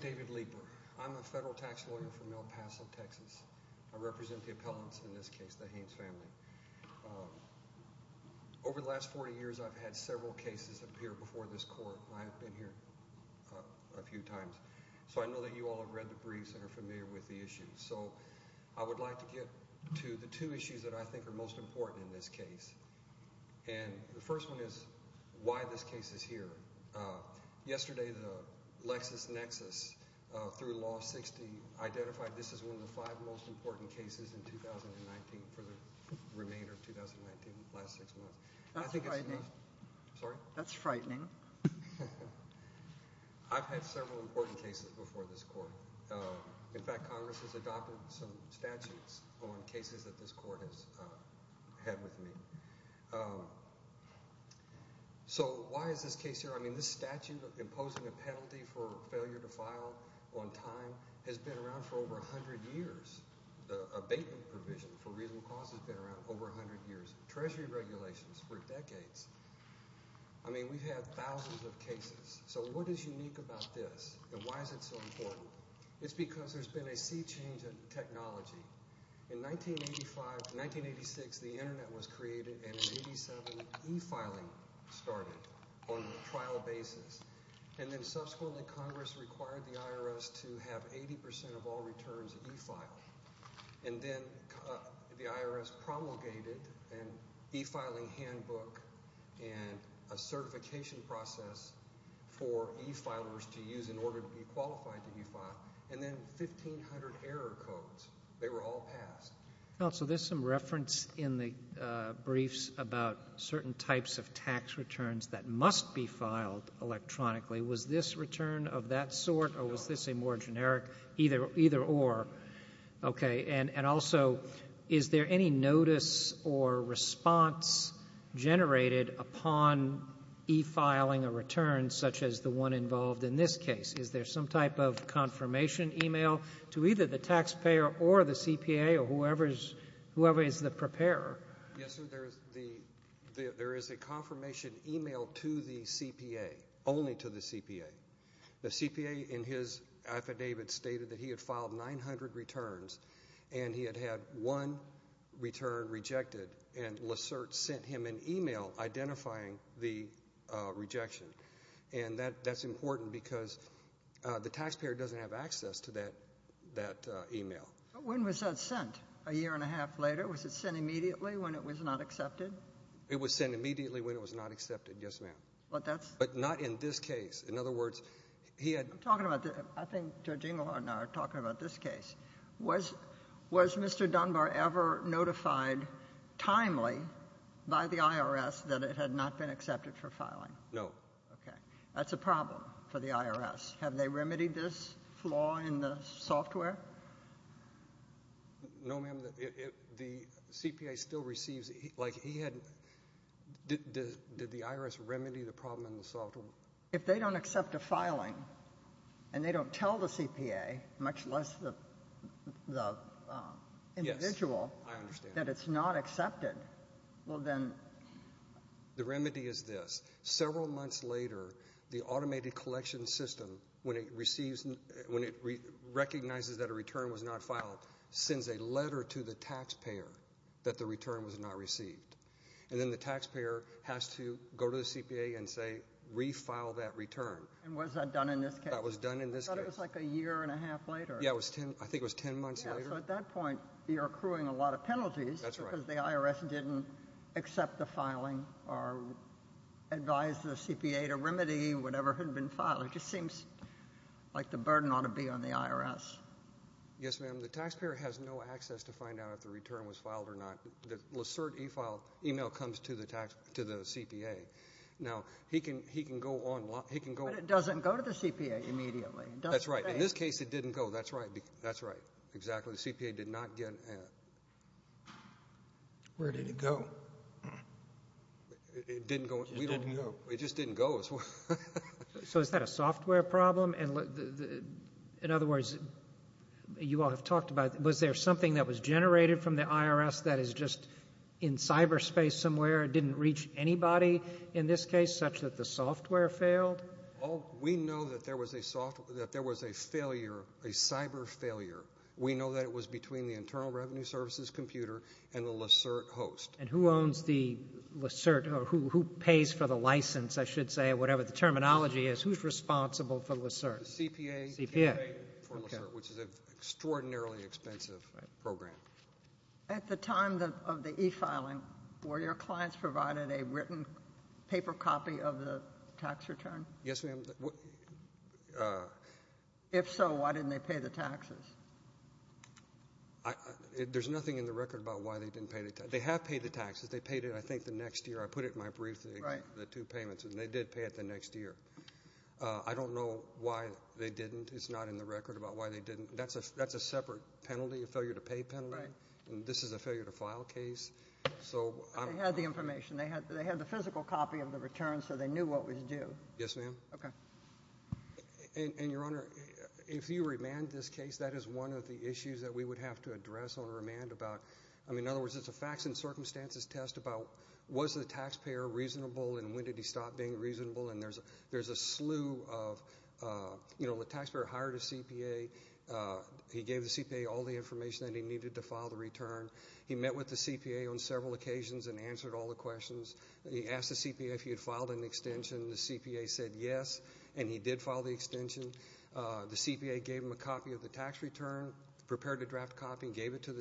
David Lieber, a federal tax lawyer from El Paso, Texas I represent the appellants in this case, the Haynes family. Over the last 40 years, I've had several cases appear before this court, and I've been here a few times. So I know that you all have read the briefs and are familiar with the issues. So I would like to get to the two issues that I think are most important in this case. And the first one is why this case is here. Yesterday, the LexisNexis, through Law 60, identified this as one of the five most important cases in 2019, for the remainder of 2019, the last six months. That's frightening. Sorry? That's frightening. I've had several important cases before this court. In fact, Congress has adopted some statutes on cases that this court has had with me. So why is this case here? I mean, this statute of imposing a penalty for failure to file on time has been around for over 100 years. The abatement provision for reasonable cause has been around for over 100 years. Treasury regulations for decades. I mean, we've had thousands of cases. So what is unique about this, and why is it so important? It's because there's been a sea change in technology. In 1985-1986, the Internet was created, and in 1987, e-filing started on a trial basis. And then subsequently, Congress required the IRS to have 80% of all returns e-filed. And then the IRS promulgated an e-filing handbook and a certification process for e-filers to use in order to be qualified to e-file, and then 1,500 error codes. They were all passed. Counsel, there's some reference in the briefs about certain types of tax returns that must be filed electronically. Was this return of that sort, or was this a more generic either-or? Okay. And also, is there any notice or response generated upon e-filing a return such as the one involved in this case? Is there some type of confirmation e-mail to either the taxpayer or the CPA or whoever is the preparer? Yes, sir. There is a confirmation e-mail to the CPA, only to the CPA. The CPA, in his affidavit, stated that he had filed 900 returns, and he had had one return rejected. And Lesert sent him an e-mail identifying the rejection. And that's important because the taxpayer doesn't have access to that e-mail. But when was that sent? A year and a half later? Was it sent immediately when it was not accepted? It was sent immediately when it was not accepted, yes, ma'am. But that's— But not in this case. In other words, he had— I'm talking about the—I think Judge Engelhardt and I are talking about this case. Was Mr. Dunbar ever notified timely by the IRS that it had not been accepted for filing? No. Okay. That's a problem for the IRS. Have they remedied this flaw in the software? No, ma'am. The CPA still receives—like, he had—did the IRS remedy the problem in the software? If they don't accept a filing and they don't tell the CPA, much less the individual— Yes, I understand. —that it's not accepted, well, then— The remedy is this. Several months later, the automated collection system, when it receives— when it recognizes that a return was not filed, sends a letter to the taxpayer that the return was not received. And then the taxpayer has to go to the CPA and say, re-file that return. And was that done in this case? That was done in this case. I thought it was like a year and a half later. Yes, it was 10—I think it was 10 months later. Yes, so at that point, you're accruing a lot of penalties— That's right. —because the IRS didn't accept the filing or advise the CPA to remedy whatever had been filed. It just seems like the burden ought to be on the IRS. Yes, ma'am. The taxpayer has no access to find out if the return was filed or not. The LICERT e-file email comes to the CPA. Now, he can go on— But it doesn't go to the CPA immediately. That's right. In this case, it didn't go. That's right. Exactly. So the CPA did not get it. Where did it go? It didn't go. We don't know. It just didn't go. So is that a software problem? In other words, you all have talked about, was there something that was generated from the IRS that is just in cyberspace somewhere and didn't reach anybody in this case, such that the software failed? Well, we know that there was a failure, a cyber failure. We know that it was between the Internal Revenue Services computer and the LICERT host. And who owns the LICERT or who pays for the license, I should say, or whatever the terminology is, who's responsible for LICERT? The CPA. The CPA. For LICERT, which is an extraordinarily expensive program. At the time of the e-filing, were your clients provided a written paper copy of the tax return? Yes, ma'am. If so, why didn't they pay the taxes? There's nothing in the record about why they didn't pay the taxes. They have paid the taxes. They paid it, I think, the next year. I put it in my brief, the two payments, and they did pay it the next year. I don't know why they didn't. It's not in the record about why they didn't. That's a separate penalty, a failure to pay penalty. This is a failure to file case. They had the information. They had the physical copy of the return so they knew what was due. Yes, ma'am. Okay. Your Honor, if you remand this case, that is one of the issues that we would have to address on remand. In other words, it's a facts and circumstances test about, was the taxpayer reasonable and when did he stop being reasonable? There's a slew of, you know, the taxpayer hired a CPA. He gave the CPA all the information that he needed to file the return. He met with the CPA on several occasions and answered all the questions. He asked the CPA if he had filed an extension. The CPA said yes, and he did file the extension. The CPA gave him a copy of the tax return, prepared a draft copy, and gave it to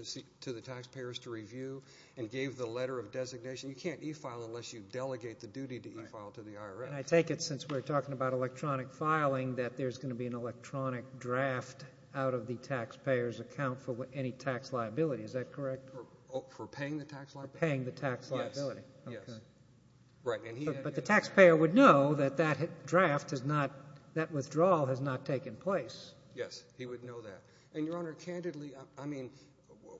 the taxpayers to review and gave the letter of designation. You can't e-file unless you delegate the duty to e-file to the IRS. And I take it since we're talking about electronic filing that there's going to be an electronic draft out of the taxpayer's account for any tax liability. Is that correct? For paying the tax liability. For paying the tax liability. Yes. But the taxpayer would know that that draft has not, that withdrawal has not taken place. Yes, he would know that. And, Your Honor, candidly, I mean,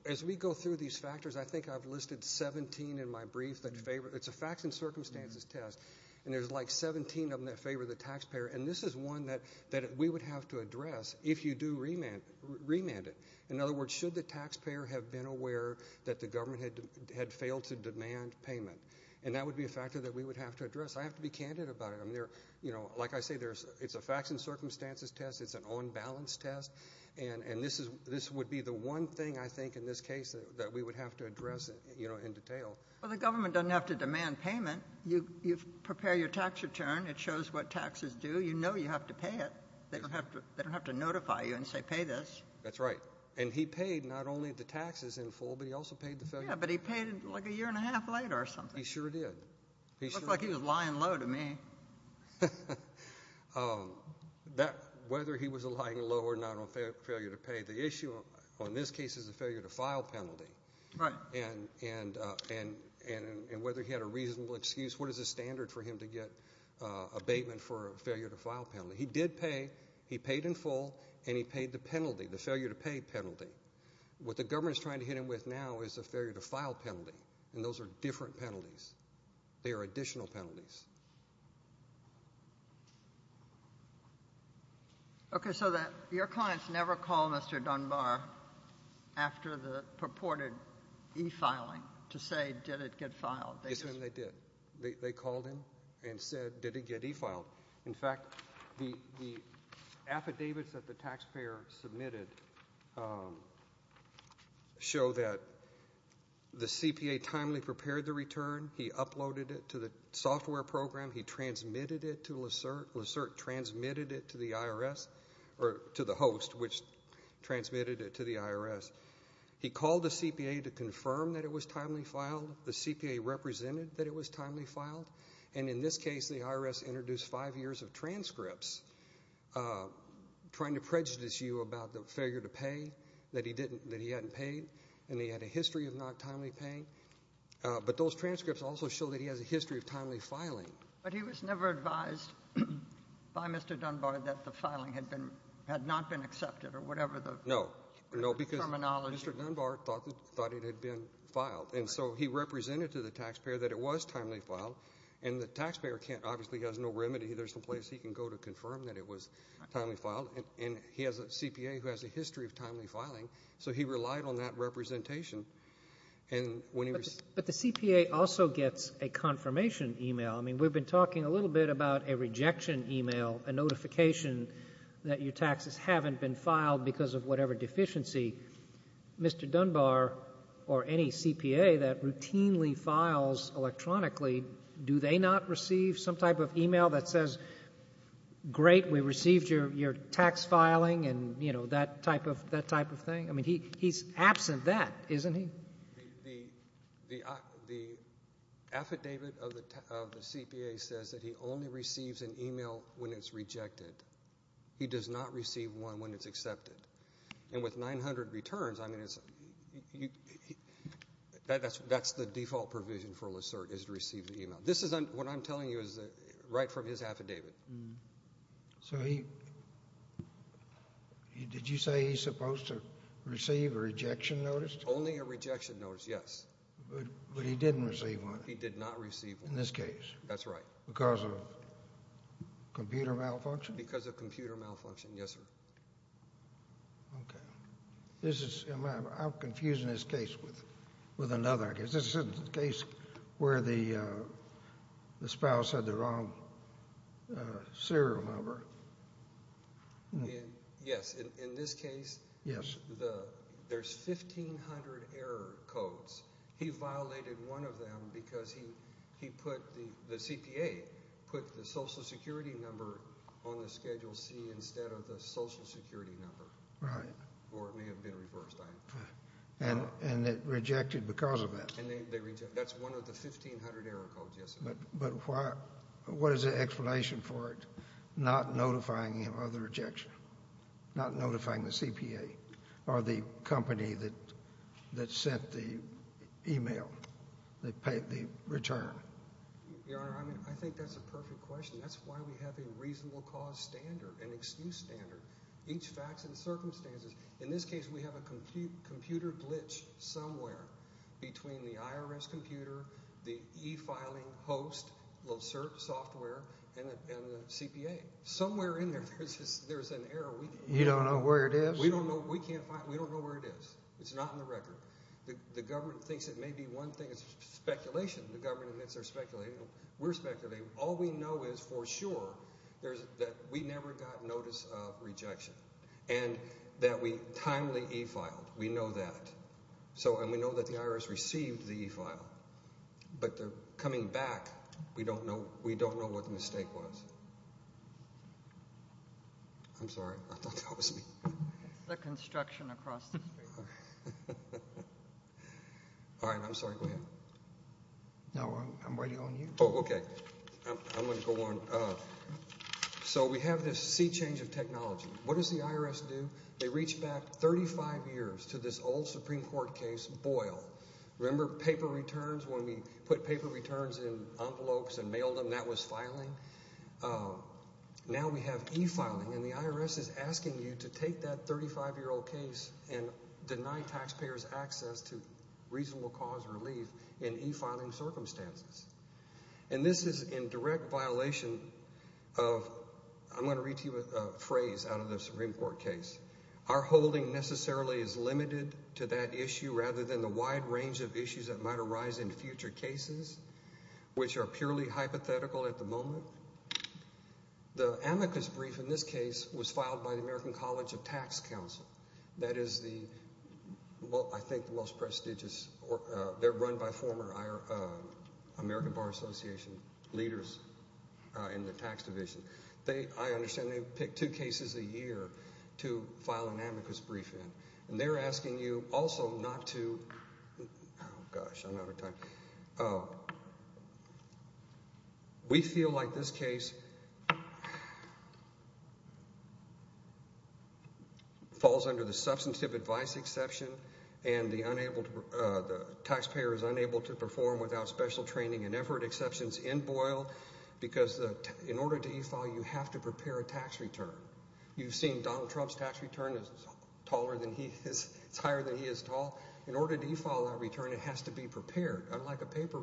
as we go through these factors, I think I've listed 17 in my brief that favor, it's a facts and circumstances test, and there's like 17 of them that favor the taxpayer. And this is one that we would have to address if you do remand it. In other words, should the taxpayer have been aware that the government had failed to demand payment? And that would be a factor that we would have to address. I have to be candid about it. Like I say, it's a facts and circumstances test. It's an on-balance test. And this would be the one thing, I think, in this case, that we would have to address in detail. Well, the government doesn't have to demand payment. You prepare your tax return. It shows what taxes do. You know you have to pay it. They don't have to notify you and say pay this. That's right. And he paid not only the taxes in full, but he also paid the failure. Yeah, but he paid like a year and a half later or something. He sure did. Looks like he was lying low to me. Whether he was lying low or not on failure to pay, the issue on this case is the failure to file penalty. Right. And whether he had a reasonable excuse. What is the standard for him to get abatement for a failure to file penalty? He did pay. He paid in full, and he paid the penalty, the failure to pay penalty. What the government is trying to hit him with now is the failure to file penalty, and those are different penalties. They are additional penalties. Okay, so your clients never called Mr. Dunbar after the purported e-filing to say did it get filed? Yes, ma'am, they did. They called him and said did it get e-filed. In fact, the affidavits that the taxpayer submitted show that the CPA timely prepared the return. He uploaded it to the software program. He transmitted it to the host, which transmitted it to the IRS. He called the CPA to confirm that it was timely filed. The CPA represented that it was timely filed, and in this case the IRS introduced five years of transcripts trying to prejudice you about the failure to pay, that he hadn't paid, and he had a history of not timely paying. But those transcripts also show that he has a history of timely filing. But he was never advised by Mr. Dunbar that the filing had not been accepted or whatever the terminology. No, because Mr. Dunbar thought it had been filed. And so he represented to the taxpayer that it was timely filed, and the taxpayer obviously has no remedy. There's no place he can go to confirm that it was timely filed. And he has a CPA who has a history of timely filing, so he relied on that representation. But the CPA also gets a confirmation e-mail. I mean, we've been talking a little bit about a rejection e-mail, a notification that your taxes haven't been filed because of whatever deficiency. Mr. Dunbar or any CPA that routinely files electronically, do they not receive some type of e-mail that says, great, we received your tax filing and, you know, that type of thing? I mean, he's absent that, isn't he? The affidavit of the CPA says that he only receives an e-mail when it's rejected. He does not receive one when it's accepted. And with 900 returns, I mean, that's the default provision for LASERT is to receive the e-mail. What I'm telling you is right from his affidavit. So did you say he's supposed to receive a rejection notice? Only a rejection notice, yes. But he didn't receive one. He did not receive one. In this case. That's right. Because of computer malfunction? Because of computer malfunction, yes, sir. Okay. I'm confusing this case with another. This isn't the case where the spouse had the wrong serial number. Yes. In this case, there's 1,500 error codes. He violated one of them because the CPA put the social security number on the Schedule C instead of the social security number. Right. Or it may have been reversed. And it rejected because of that. That's one of the 1,500 error codes, yes. But what is the explanation for it not notifying him of the rejection, not notifying the CPA or the company that sent the e-mail, the return? Your Honor, I think that's a perfect question. That's why we have a reasonable cause standard, an excuse standard. Each facts and circumstances. In this case, we have a computer glitch somewhere between the IRS computer, the e-filing host software, and the CPA. Somewhere in there, there's an error. You don't know where it is? We don't know. We can't find it. We don't know where it is. It's not in the record. The government thinks it may be one thing. It's speculation. The government admits they're speculating. We're speculating. All we know is for sure that we never got notice of rejection and that we timely e-filed. We know that. And we know that the IRS received the e-file, but they're coming back. We don't know what the mistake was. I'm sorry. I thought that was me. The construction across the street. All right. I'm sorry. Go ahead. No, I'm waiting on you. Oh, okay. I'm going to go on. So we have this sea change of technology. What does the IRS do? They reach back 35 years to this old Supreme Court case, Boyle. Remember paper returns? When we put paper returns in envelopes and mailed them, that was filing. Now we have e-filing, and the IRS is asking you to take that 35-year-old case and deny taxpayers access to reasonable cause relief in e-filing circumstances. And this is in direct violation of – I'm going to read to you a phrase out of the Supreme Court case. Our holding necessarily is limited to that issue rather than the wide range of issues that might arise in future cases, which are purely hypothetical at the moment. The amicus brief in this case was filed by the American College of Tax Counsel. That is the – well, I think the most prestigious – they're run by former American Bar Association leaders in the tax division. I understand they pick two cases a year to file an amicus brief in. And they're asking you also not to – oh, gosh, I'm out of time. We feel like this case falls under the substantive advice exception and the taxpayer is unable to perform without special training and effort exceptions in Boyle because in order to e-file, you have to prepare a tax return. You've seen Donald Trump's tax return is taller than he is – it's higher than he is tall. In order to e-file that return, it has to be prepared. Unlike a paper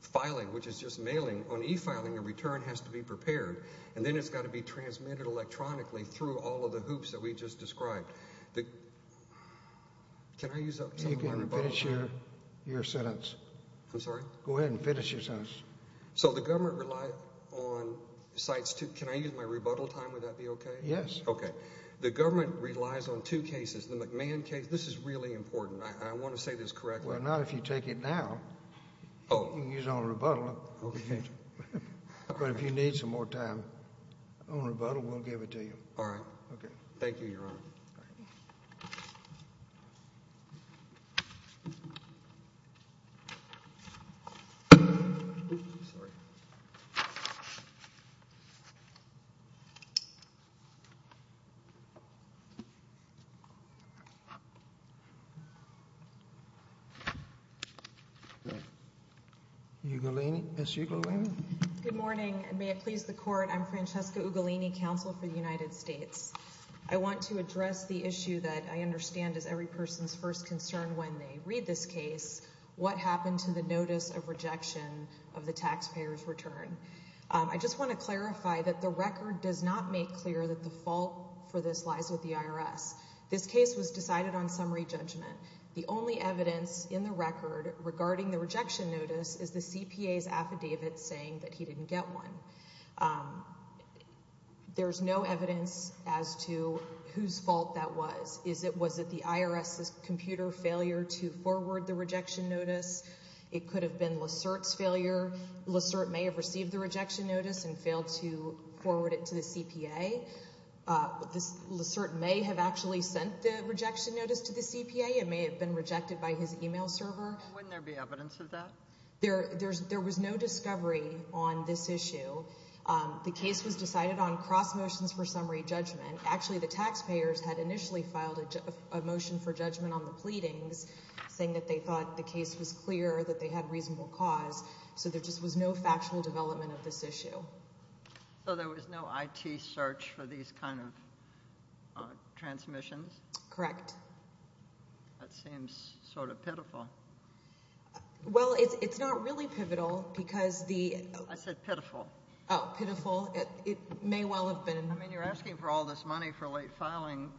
filing, which is just mailing, on e-filing, a return has to be prepared. And then it's got to be transmitted electronically through all of the hoops that we just described. Can I use up some of my rebuttal time? You can finish your sentence. I'm sorry? Go ahead and finish your sentence. So the government relies on – can I use my rebuttal time? Would that be okay? Yes. Okay. The government relies on two cases. The McMahon case – this is really important. I want to say this correctly. Well, not if you take it now. Oh. You can use it on rebuttal. Okay. But if you need some more time on rebuttal, we'll give it to you. All right. Okay. Thank you, Your Honor. Sorry. Oops. Ms. Ugolini? Good morning, and may it please the Court. I'm Francesca Ugolini, counsel for the United States. I want to address the issue that I understand is every person's first concern when they read this case, what happened to the notice of rejection of the taxpayer's return. I just want to clarify that the record does not make clear that the fault for this lies with the IRS. This case was decided on summary judgment. The only evidence in the record regarding the rejection notice is the CPA's affidavit saying that he didn't get one. There's no evidence as to whose fault that was. Was it the IRS's computer failure to forward the rejection notice? It could have been Lassert's failure. Lassert may have received the rejection notice and failed to forward it to the CPA. Lassert may have actually sent the rejection notice to the CPA. It may have been rejected by his email server. Wouldn't there be evidence of that? There was no discovery on this issue. The case was decided on cross motions for summary judgment. Actually, the taxpayers had initially filed a motion for judgment on the pleadings, saying that they thought the case was clear, that they had reasonable cause. So there just was no factual development of this issue. So there was no IT search for these kind of transmissions? Correct. That seems sort of pitiful. Well, it's not really pivotal because the – I said pitiful. Oh, pitiful. It may well have been. I mean, you're asking for all this money for late filing,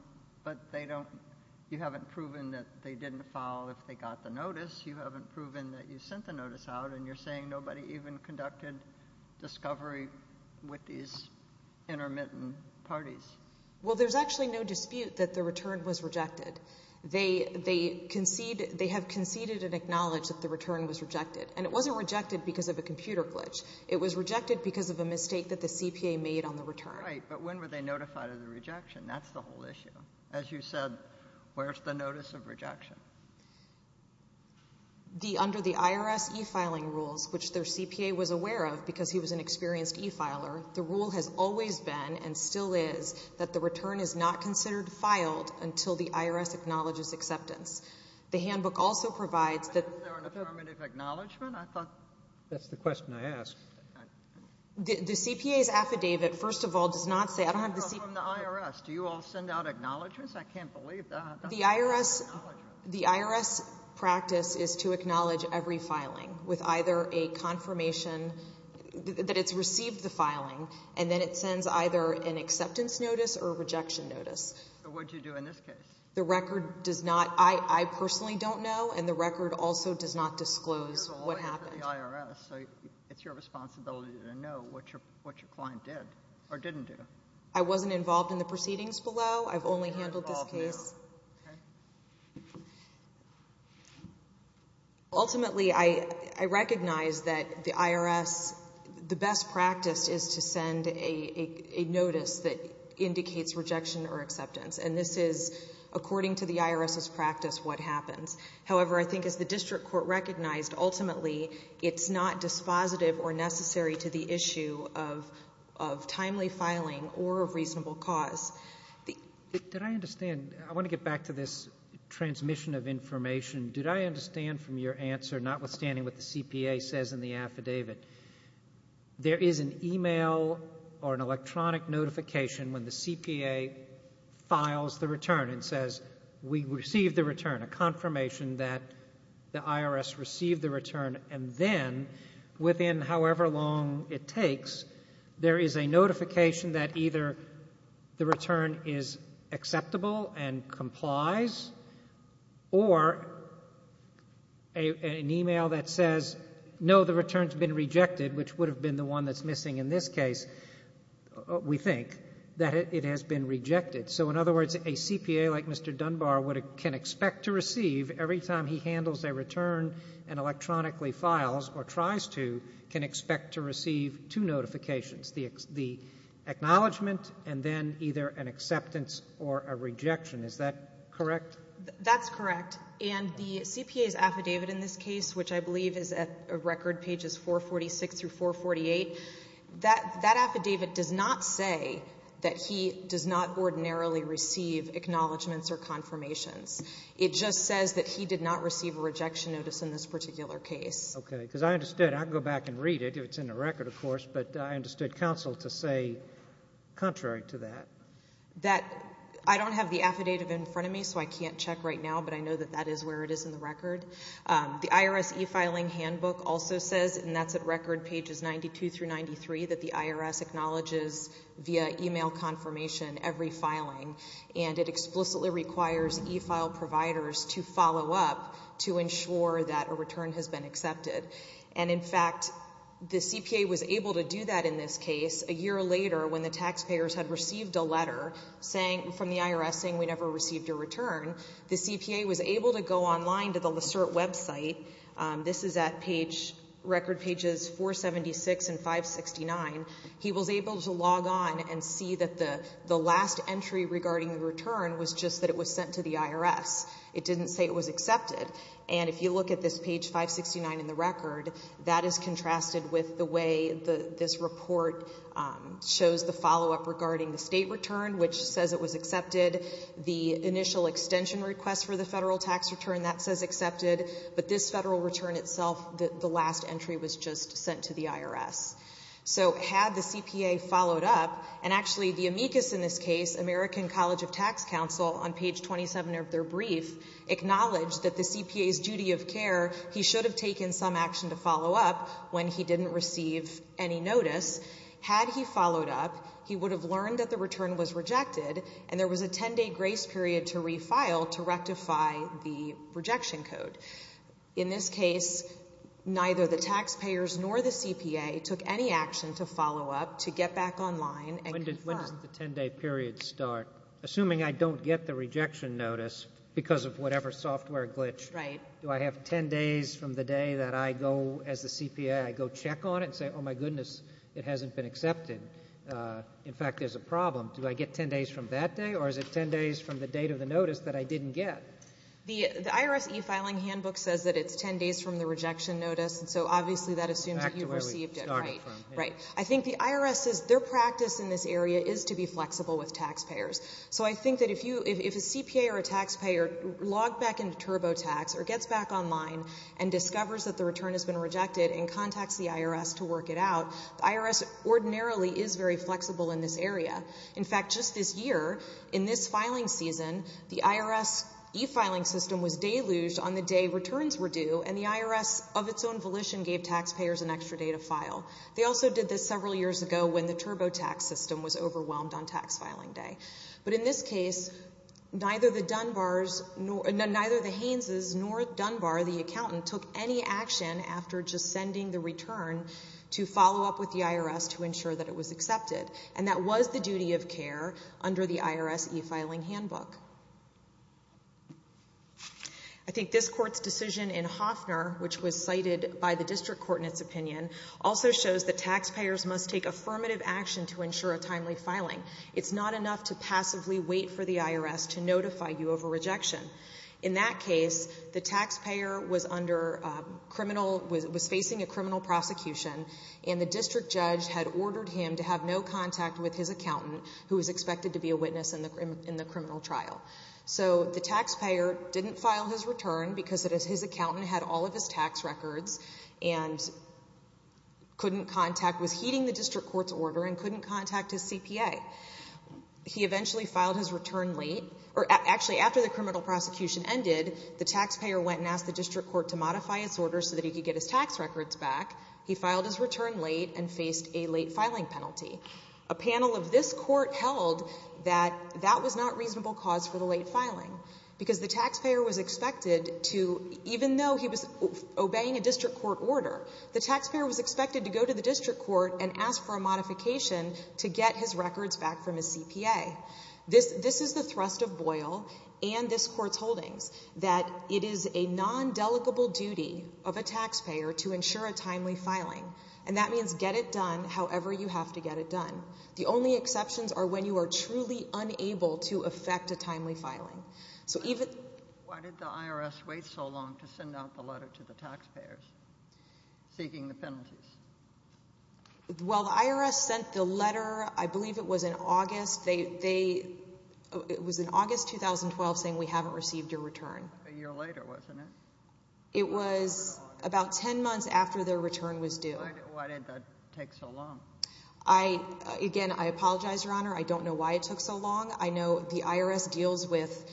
but they don't – you haven't proven that they didn't file if they got the notice. You haven't proven that you sent the notice out, and you're saying nobody even conducted discovery with these intermittent parties. Well, there's actually no dispute that the return was rejected. They have conceded and acknowledged that the return was rejected, and it wasn't rejected because of a computer glitch. It was rejected because of a mistake that the CPA made on the return. Right, but when were they notified of the rejection? That's the whole issue. As you said, where's the notice of rejection? Under the IRS e-filing rules, which their CPA was aware of because he was an experienced e-filer, the rule has always been and still is that the return is not considered filed until the IRS acknowledges acceptance. The handbook also provides that – Is there an affirmative acknowledgment? That's the question I asked. The CPA's affidavit, first of all, does not say – I don't have the CPA – It's from the IRS. Do you all send out acknowledgments? I can't believe that. The IRS practice is to acknowledge every filing with either a confirmation that it's received the filing, and then it sends either an acceptance notice or a rejection notice. What do you do in this case? The record does not – I personally don't know, and the record also does not disclose what happened. You're the lawyer for the IRS, so it's your responsibility to know what your client did or didn't do. I wasn't involved in the proceedings below. I've only handled this case. You're involved now. Ultimately, I recognize that the IRS, the best practice is to send a notice that indicates rejection or acceptance, and this is, according to the IRS's practice, what happens. However, I think as the district court recognized, ultimately it's not dispositive or necessary to the issue of timely filing or of reasonable cause. Did I understand – I want to get back to this transmission of information. Did I understand from your answer, notwithstanding what the CPA says in the affidavit, there is an email or an electronic notification when the CPA files the return and says we received the return, a confirmation that the IRS received the return, and then within however long it takes, there is a notification that either the return is acceptable and complies or an email that says, no, the return's been rejected, which would have been the one that's missing in this case, we think, that it has been rejected. So in other words, a CPA like Mr. Dunbar can expect to receive, every time he handles a return and electronically files or tries to can expect to receive two notifications, the acknowledgment and then either an acceptance or a rejection. Is that correct? That's correct, and the CPA's affidavit in this case, which I believe is at record pages 446 through 448, that affidavit does not say that he does not ordinarily receive acknowledgments or confirmations. It just says that he did not receive a rejection notice in this particular case. Okay, because I understood. I can go back and read it if it's in the record, of course, but I understood counsel to say contrary to that. I don't have the affidavit in front of me, so I can't check right now, but I know that that is where it is in the record. The IRS e-filing handbook also says, and that's at record pages 92 through 93, that the IRS acknowledges via email confirmation every filing, and it explicitly requires e-file providers to follow up to ensure that a return has been accepted. And, in fact, the CPA was able to do that in this case a year later when the taxpayers had received a letter from the IRS saying we never received a return. The CPA was able to go online to the LACERT website. This is at record pages 476 and 569. He was able to log on and see that the last entry regarding the return was just that it was sent to the IRS. It didn't say it was accepted. And if you look at this page 569 in the record, that is contrasted with the way this report shows the follow-up regarding the state return, which says it was accepted. The initial extension request for the federal tax return, that says accepted. But this federal return itself, the last entry was just sent to the IRS. So had the CPA followed up, and actually the amicus in this case, American College of Tax Counsel, on page 27 of their brief, acknowledged that the CPA's duty of care, he should have taken some action to follow up when he didn't receive any notice. Had he followed up, he would have learned that the return was rejected, and there was a 10-day grace period to refile to rectify the rejection code. In this case, neither the taxpayers nor the CPA took any action to follow up, to get back online and confirm. When does the 10-day period start? Assuming I don't get the rejection notice because of whatever software glitch, do I have 10 days from the day that I go as the CPA, I go check on it and say, oh, my goodness, it hasn't been accepted. In fact, there's a problem. Do I get 10 days from that day, or is it 10 days from the date of the notice that I didn't get? The IRS e-filing handbook says that it's 10 days from the rejection notice, and so obviously that assumes that you received it. Right. I think the IRS says their practice in this area is to be flexible with taxpayers. So I think that if a CPA or a taxpayer logged back into TurboTax or gets back online and discovers that the return has been rejected and contacts the IRS to work it out, the IRS ordinarily is very flexible in this area. In fact, just this year, in this filing season, the IRS e-filing system was deluged on the day returns were due, and the IRS, of its own volition, gave taxpayers an extra day to file. They also did this several years ago when the TurboTax system was overwhelmed on tax-filing day. But in this case, neither the Haines's nor Dunbar, the accountant, took any action after just sending the return to follow up with the IRS to ensure that it was accepted, and that was the duty of care under the IRS e-filing handbook. I think this Court's decision in Hofner, which was cited by the district court in its opinion, also shows that taxpayers must take affirmative action to ensure a timely filing. It's not enough to passively wait for the IRS to notify you of a rejection. In that case, the taxpayer was facing a criminal prosecution, and the district judge had ordered him to have no contact with his accountant, who was expected to be a witness in the criminal trial. So the taxpayer didn't file his return because his accountant had all of his tax records, and couldn't contact, was heeding the district court's order, and couldn't contact his CPA. He eventually filed his return late. Actually, after the criminal prosecution ended, the taxpayer went and asked the district court to modify its order so that he could get his tax records back. He filed his return late and faced a late filing penalty. A panel of this Court held that that was not reasonable cause for the late filing because the taxpayer was expected to, even though he was obeying a district court order, the taxpayer was expected to go to the district court and ask for a modification to get his records back from his CPA. This is the thrust of Boyle and this Court's holdings, that it is a non-delicable duty of a taxpayer to ensure a timely filing, and that means get it done however you have to get it done. The only exceptions are when you are truly unable to effect a timely filing. Why did the IRS wait so long to send out the letter to the taxpayers seeking the penalties? Well, the IRS sent the letter, I believe it was in August. It was in August 2012 saying we haven't received your return. A year later, wasn't it? It was about 10 months after their return was due. Why did that take so long? Again, I apologize, Your Honor. I don't know why it took so long. I know the IRS deals with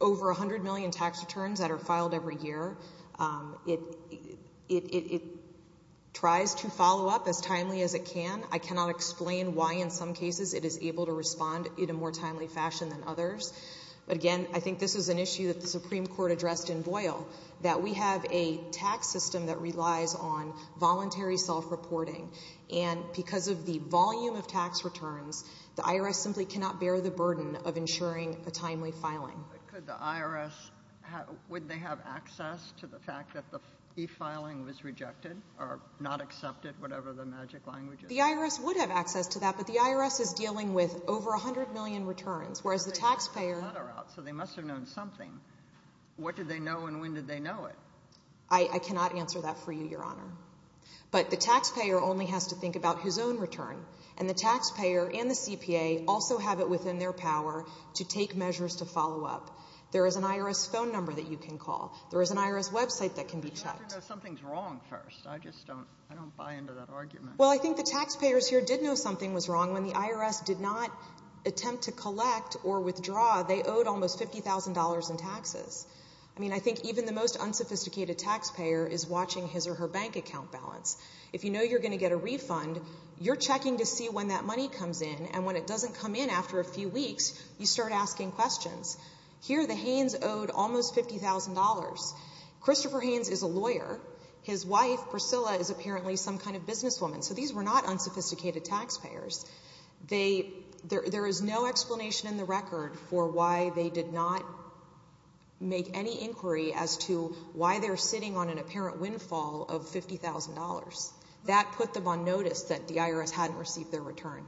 over 100 million tax returns that are filed every year. It tries to follow up as timely as it can. I cannot explain why in some cases it is able to respond in a more timely fashion than others. But again, I think this is an issue that the Supreme Court addressed in Boyle, that we have a tax system that relies on voluntary self-reporting, and because of the volume of tax returns, the IRS simply cannot bear the burden of ensuring a timely filing. But could the IRS, would they have access to the fact that the e-filing was rejected or not accepted, whatever the magic language is? The IRS would have access to that, but the IRS is dealing with over 100 million returns, whereas the taxpayer... So they must have known something. What did they know and when did they know it? I cannot answer that for you, Your Honor. But the taxpayer only has to think about his own return, and the taxpayer and the CPA also have it within their power to take measures to follow up. There is an IRS phone number that you can call. There is an IRS website that can be checked. But you have to know something is wrong first. I just don't buy into that argument. Well, I think the taxpayers here did know something was wrong. When the IRS did not attempt to collect or withdraw, they owed almost $50,000 in taxes. I mean, I think even the most unsophisticated taxpayer is watching his or her bank account balance. If you know you're going to get a refund, you're checking to see when that money comes in, and when it doesn't come in after a few weeks, you start asking questions. Here, the Haynes owed almost $50,000. Christopher Haynes is a lawyer. His wife, Priscilla, is apparently some kind of businesswoman. So these were not unsophisticated taxpayers. There is no explanation in the record for why they did not make any inquiry as to why they're sitting on an apparent windfall of $50,000. That put them on notice that the IRS hadn't received their return.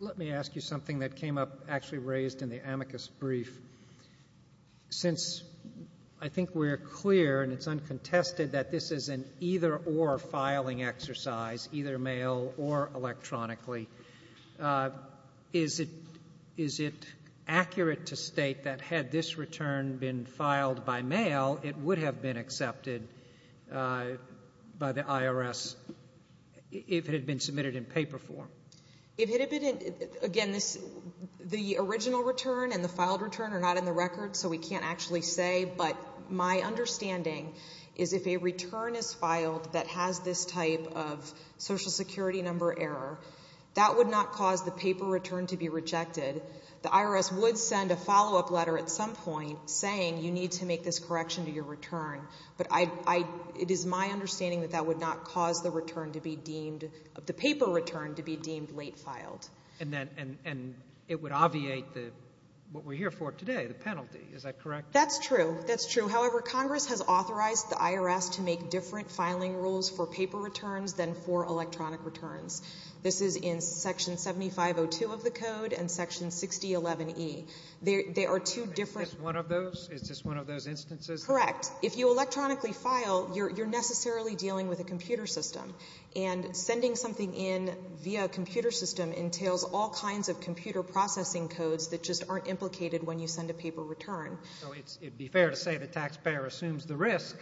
Let me ask you something that came up actually raised in the amicus brief. Since I think we're clear and it's uncontested that this is an either-or filing exercise, either mail or electronically, is it accurate to state that had this return been filed by mail, it would have been accepted by the IRS if it had been submitted in paper form? Again, the original return and the filed return are not in the record, so we can't actually say, but my understanding is if a return is filed that has this type of Social Security number error, that would not cause the paper return to be rejected. The IRS would send a follow-up letter at some point saying, you need to make this correction to your return. But it is my understanding that that would not cause the return to be deemed, the paper return to be deemed late filed. And it would obviate what we're here for today, the penalty. Is that correct? That's true. That's true. However, Congress has authorized the IRS to make different filing rules for paper returns than for electronic returns. This is in Section 7502 of the code and Section 6011E. They are two different. Is this one of those? Is this one of those instances? Correct. If you electronically file, you're necessarily dealing with a computer system. And sending something in via a computer system entails all kinds of computer processing codes that just aren't implicated when you send a paper return. So it would be fair to say the taxpayer assumes the risk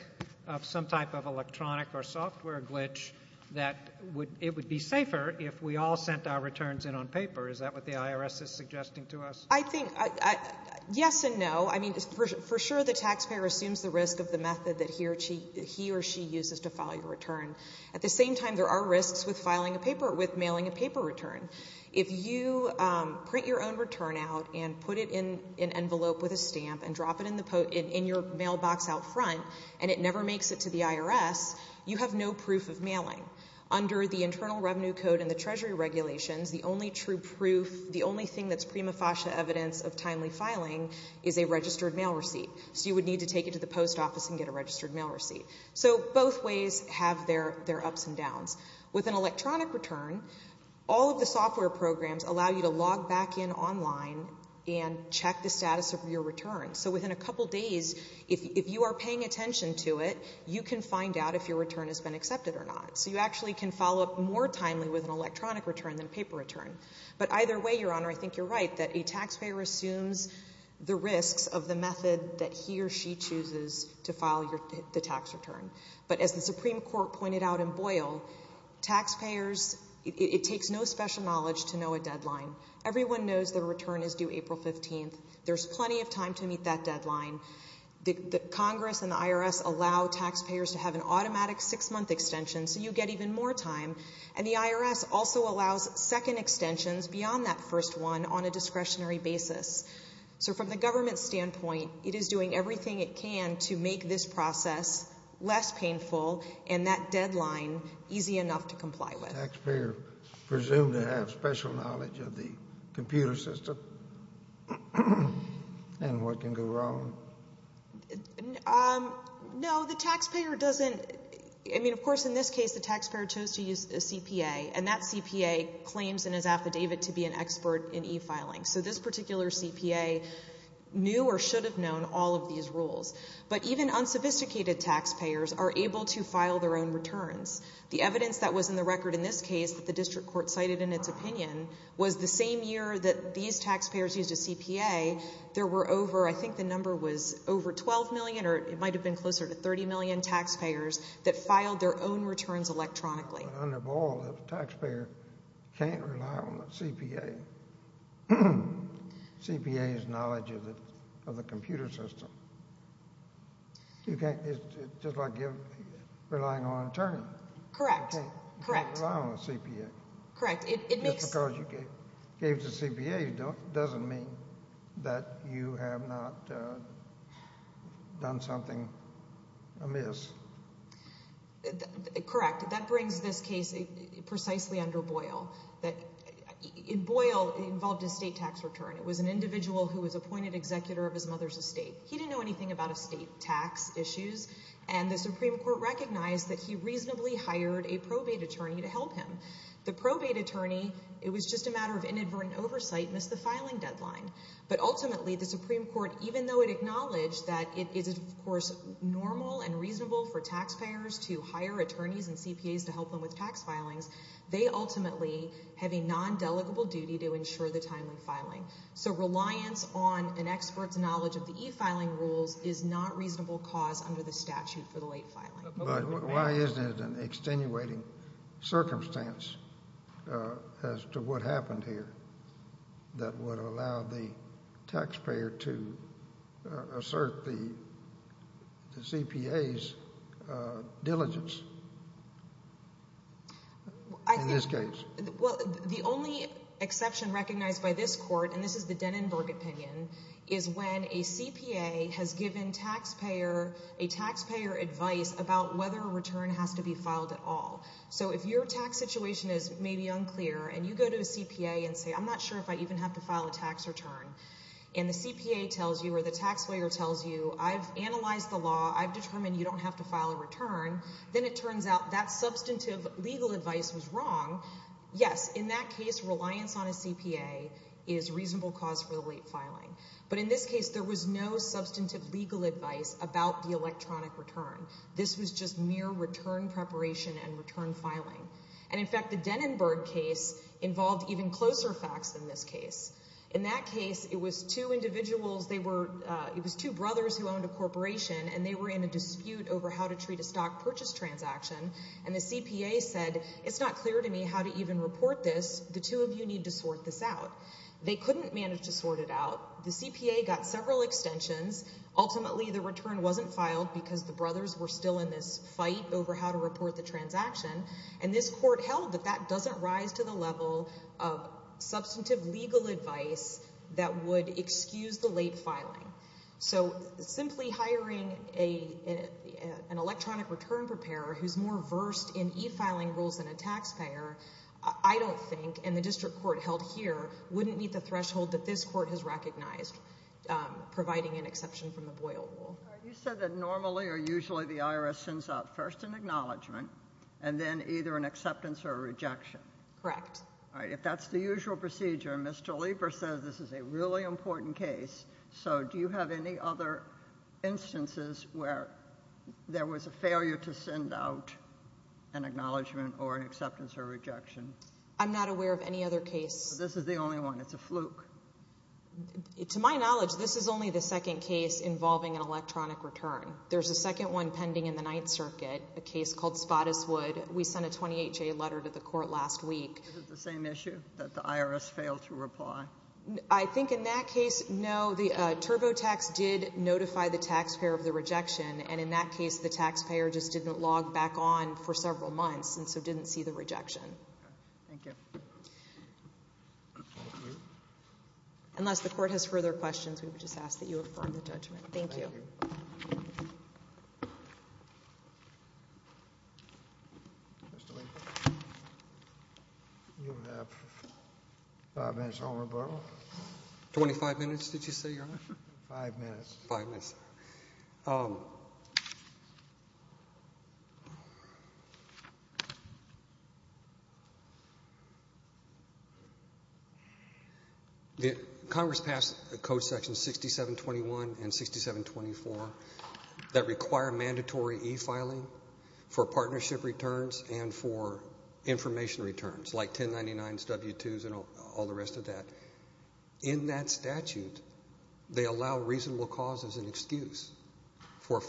of some type of electronic or software glitch that it would be safer if we all sent our returns in on paper. Is that what the IRS is suggesting to us? I think yes and no. I mean, for sure the taxpayer assumes the risk of the method that he or she uses to file your return. At the same time, there are risks with filing a paper or with mailing a paper return. If you print your own return out and put it in an envelope with a stamp and drop it in your mailbox out front and it never makes it to the IRS, you have no proof of mailing. Under the Internal Revenue Code and the Treasury regulations, the only true proof, the only thing that's prima facie evidence of timely filing is a registered mail receipt. So you would need to take it to the post office and get a registered mail receipt. So both ways have their ups and downs. With an electronic return, all of the software programs allow you to log back in online and check the status of your return. So within a couple days, if you are paying attention to it, you can find out if your return has been accepted or not. So you actually can follow up more timely with an electronic return than a paper return. But either way, Your Honor, I think you're right, that a taxpayer assumes the risks of the method that he or she chooses to file the tax return. But as the Supreme Court pointed out in Boyle, it takes no special knowledge to know a deadline. Everyone knows the return is due April 15th. There's plenty of time to meet that deadline. Congress and the IRS allow taxpayers to have an automatic six-month extension so you get even more time. And the IRS also allows second extensions beyond that first one on a discretionary basis. So from the government's standpoint, it is doing everything it can to make this process less painful and that deadline easy enough to comply with. Taxpayers presume to have special knowledge of the computer system and what can go wrong. No, the taxpayer doesn't. I mean, of course, in this case, the taxpayer chose to use a CPA, and that CPA claims in his affidavit to be an expert in e-filing. So this particular CPA knew or should have known all of these rules. But even unsophisticated taxpayers are able to file their own returns. The evidence that was in the record in this case that the district court cited in its opinion was the same year that these taxpayers used a CPA. There were over, I think the number was over 12 million, or it might have been closer to 30 million taxpayers that filed their own returns electronically. Under Boyle, the taxpayer can't rely on the CPA. CPA is knowledge of the computer system. It's just like relying on an attorney. Correct, correct. You can't rely on the CPA. Correct. Just because you gave the CPA doesn't mean that you have not done something amiss. Correct. That brings this case precisely under Boyle. Boyle involved a state tax return. It was an individual who was appointed executor of his mother's estate. He didn't know anything about estate tax issues, and the Supreme Court recognized that he reasonably hired a probate attorney to help him. The probate attorney, it was just a matter of inadvertent oversight, missed the filing deadline. It was normal and reasonable for taxpayers to hire attorneys and CPAs to help them with tax filings. They ultimately have a non-delegable duty to ensure the timely filing. So reliance on an expert's knowledge of the e-filing rules is not a reasonable cause under the statute for the late filing. But why isn't it an extenuating circumstance as to what happened here that would allow the taxpayer to assert the CPA's diligence in this case? Well, the only exception recognized by this court, and this is the Denenberg opinion, is when a CPA has given a taxpayer advice about whether a return has to be filed at all. So if your tax situation is maybe unclear and you go to a CPA and say, I'm not sure if I even have to file a tax return, and the CPA tells you or the taxpayer tells you, I've analyzed the law, I've determined you don't have to file a return, then it turns out that substantive legal advice was wrong. Yes, in that case, reliance on a CPA is a reasonable cause for the late filing. But in this case, there was no substantive legal advice about the electronic return. This was just mere return preparation and return filing. And in fact, the Denenberg case involved even closer facts than this case. In that case, it was two individuals, it was two brothers who owned a corporation, and they were in a dispute over how to treat a stock purchase transaction. And the CPA said, it's not clear to me how to even report this. The two of you need to sort this out. They couldn't manage to sort it out. The CPA got several extensions. Ultimately, the return wasn't filed because the brothers were still in this fight over how to report the transaction. And this court held that that doesn't rise to the level of substantive legal advice that would excuse the late filing. So simply hiring an electronic return preparer who's more versed in e-filing rules than a taxpayer, I don't think, and the district court held here, wouldn't meet the threshold that this court has recognized, providing an exception from the Boyle rule. You said that normally or usually the IRS sends out first an acknowledgment and then either an acceptance or a rejection. Correct. All right. If that's the usual procedure, and Mr. Lieber says this is a really important case, so do you have any other instances where there was a failure to send out an acknowledgment or an acceptance or rejection? I'm not aware of any other case. This is the only one. It's a fluke. To my knowledge, this is only the second case involving an electronic return. There's a second one pending in the Ninth Circuit, a case called Spottiswood. We sent a 20HA letter to the court last week. Is it the same issue, that the IRS failed to reply? I think in that case, no. The TurboTax did notify the taxpayer of the rejection, and in that case the taxpayer just didn't log back on for several months and so didn't see the rejection. Okay. Thank you. Thank you. Unless the court has further questions, we would just ask that you affirm the judgment. Thank you. Thank you. Mr. Lieber. You have five minutes, Your Honor. Twenty-five minutes, did you say, Your Honor? Five minutes. Five minutes. Congress passed Code Sections 6721 and 6724 that require mandatory e-filing for partnership returns and for information returns, like 1099s, W-2s, and all the rest of that. In that statute, they allow reasonable cause as an excuse for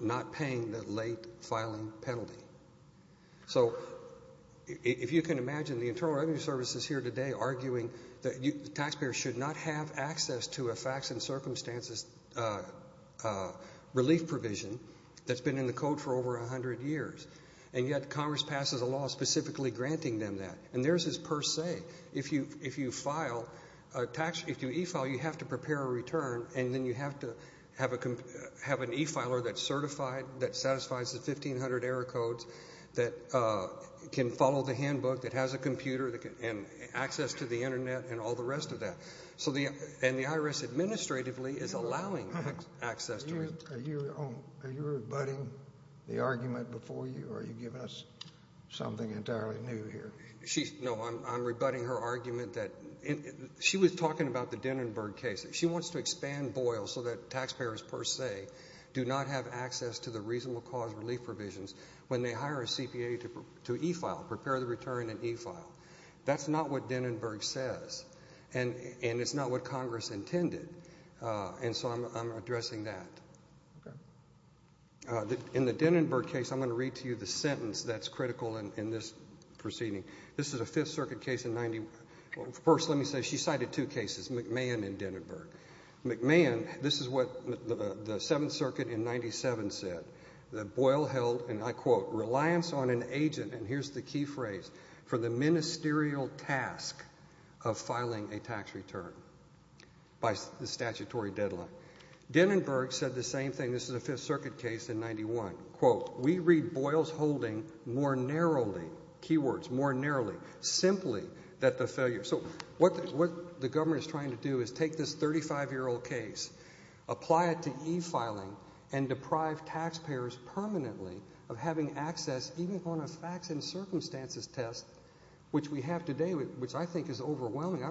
not paying the late filing penalty. So if you can imagine the Internal Revenue Service is here today arguing that the taxpayer should not have access to a facts and circumstances relief provision that's been in the code for over 100 years, and yet Congress passes a law specifically granting them that. And theirs is per se. If you e-file, you have to prepare a return, and then you have to have an e-filer that's certified, that satisfies the 1500 error codes, that can follow the handbook, that has a computer, and access to the Internet, and all the rest of that. And the IRS administratively is allowing access to it. Are you rebutting the argument before you, or are you giving us something entirely new here? No, I'm rebutting her argument that she was talking about the Dennenberg case. She wants to expand Boyle so that taxpayers per se do not have access to the reasonable cause relief provisions when they hire a CPA to e-file, prepare the return in e-file. That's not what Dennenberg says, and it's not what Congress intended. And so I'm addressing that. In the Dennenberg case, I'm going to read to you the sentence that's critical in this proceeding. This is a Fifth Circuit case in 91. First, let me say she cited two cases, McMahon and Dennenberg. McMahon, this is what the Seventh Circuit in 97 said, that Boyle held, and I quote, reliance on an agent, and here's the key phrase, for the ministerial task of filing a tax return by the statutory deadline. Dennenberg said the same thing. This is a Fifth Circuit case in 91. We read Boyle's holding more narrowly, key words, more narrowly, simply that the failure. So what the government is trying to do is take this 35-year-old case, apply it to e-filing, and deprive taxpayers permanently of having access even on a facts and circumstances test, which we have today, which I think is overwhelming.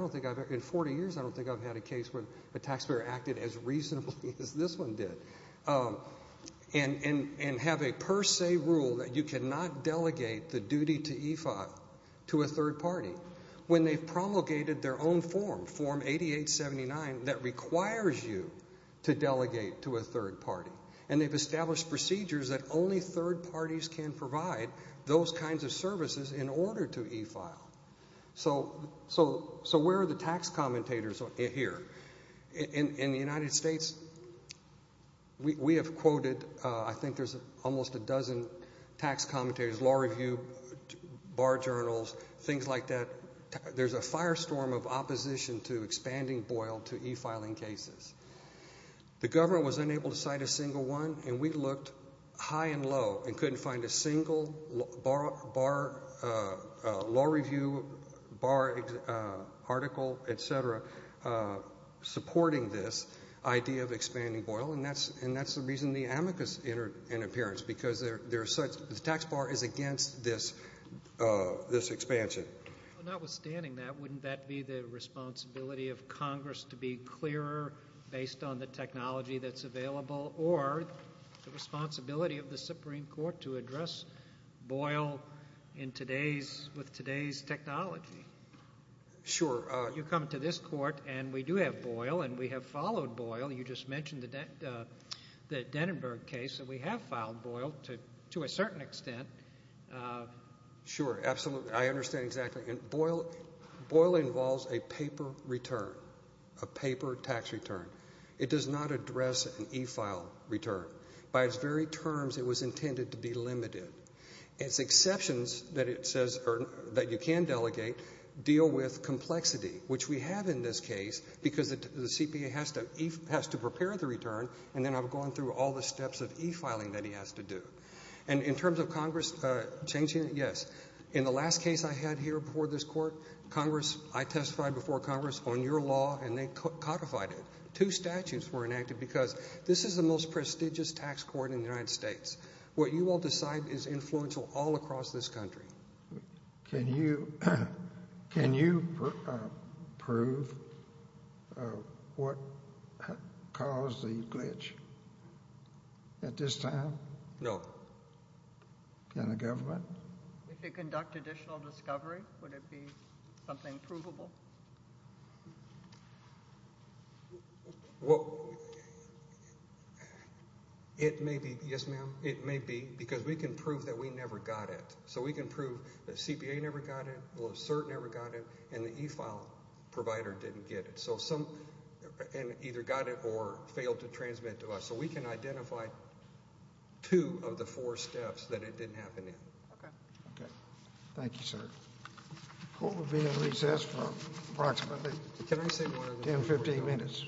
In 40 years, I don't think I've had a case where a taxpayer acted as reasonably as this one did. And have a per se rule that you cannot delegate the duty to e-file to a third party when they've promulgated their own form, Form 8879, that requires you to delegate to a third party. And they've established procedures that only third parties can provide those kinds of services in order to e-file. So where are the tax commentators here? In the United States, we have quoted, I think there's almost a dozen tax commentators, law review, bar journals, things like that. There's a firestorm of opposition to expanding Boyle to e-filing cases. The government was unable to cite a single one, and we looked high and low and couldn't find a single law review article, et cetera, supporting this idea of expanding Boyle. And that's the reason the amicus entered into appearance, because the tax bar is against this expansion. Notwithstanding that, wouldn't that be the responsibility of Congress to be clearer based on the technology that's available, or the responsibility of the Supreme Court to address Boyle with today's technology? Sure. You come to this court, and we do have Boyle, and we have followed Boyle. You just mentioned the Dennenberg case. We have filed Boyle to a certain extent. Sure, absolutely. I understand exactly. And Boyle involves a paper return, a paper tax return. It does not address an e-file return. By its very terms, it was intended to be limited. Its exceptions that it says or that you can delegate deal with complexity, which we have in this case because the CPA has to prepare the return, and then I'm going through all the steps of e-filing that he has to do. And in terms of Congress changing it, yes. In the last case I had here before this court, Congress, I testified before Congress on your law, and they codified it. Two statutes were enacted because this is the most prestigious tax court in the United States. What you will decide is influential all across this country. Can you prove what caused the glitch at this time? No. In the government? If they conduct additional discovery, would it be something provable? Well, it may be. Yes, ma'am? It may be because we can prove that we never got it. So we can prove that the CPA never got it or the cert never got it and the e-file provider didn't get it and either got it or failed to transmit to us. So we can identify two of the four steps that it didn't happen in. Okay. Thank you, sir. The court will be in recess for approximately 10, 15 minutes.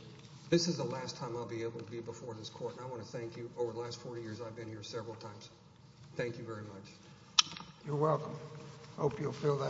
This is the last time I'll be able to be before this court, and I want to thank you. Over the last 40 years, I've been here several times. Thank you very much. You're welcome. I hope you'll fill that.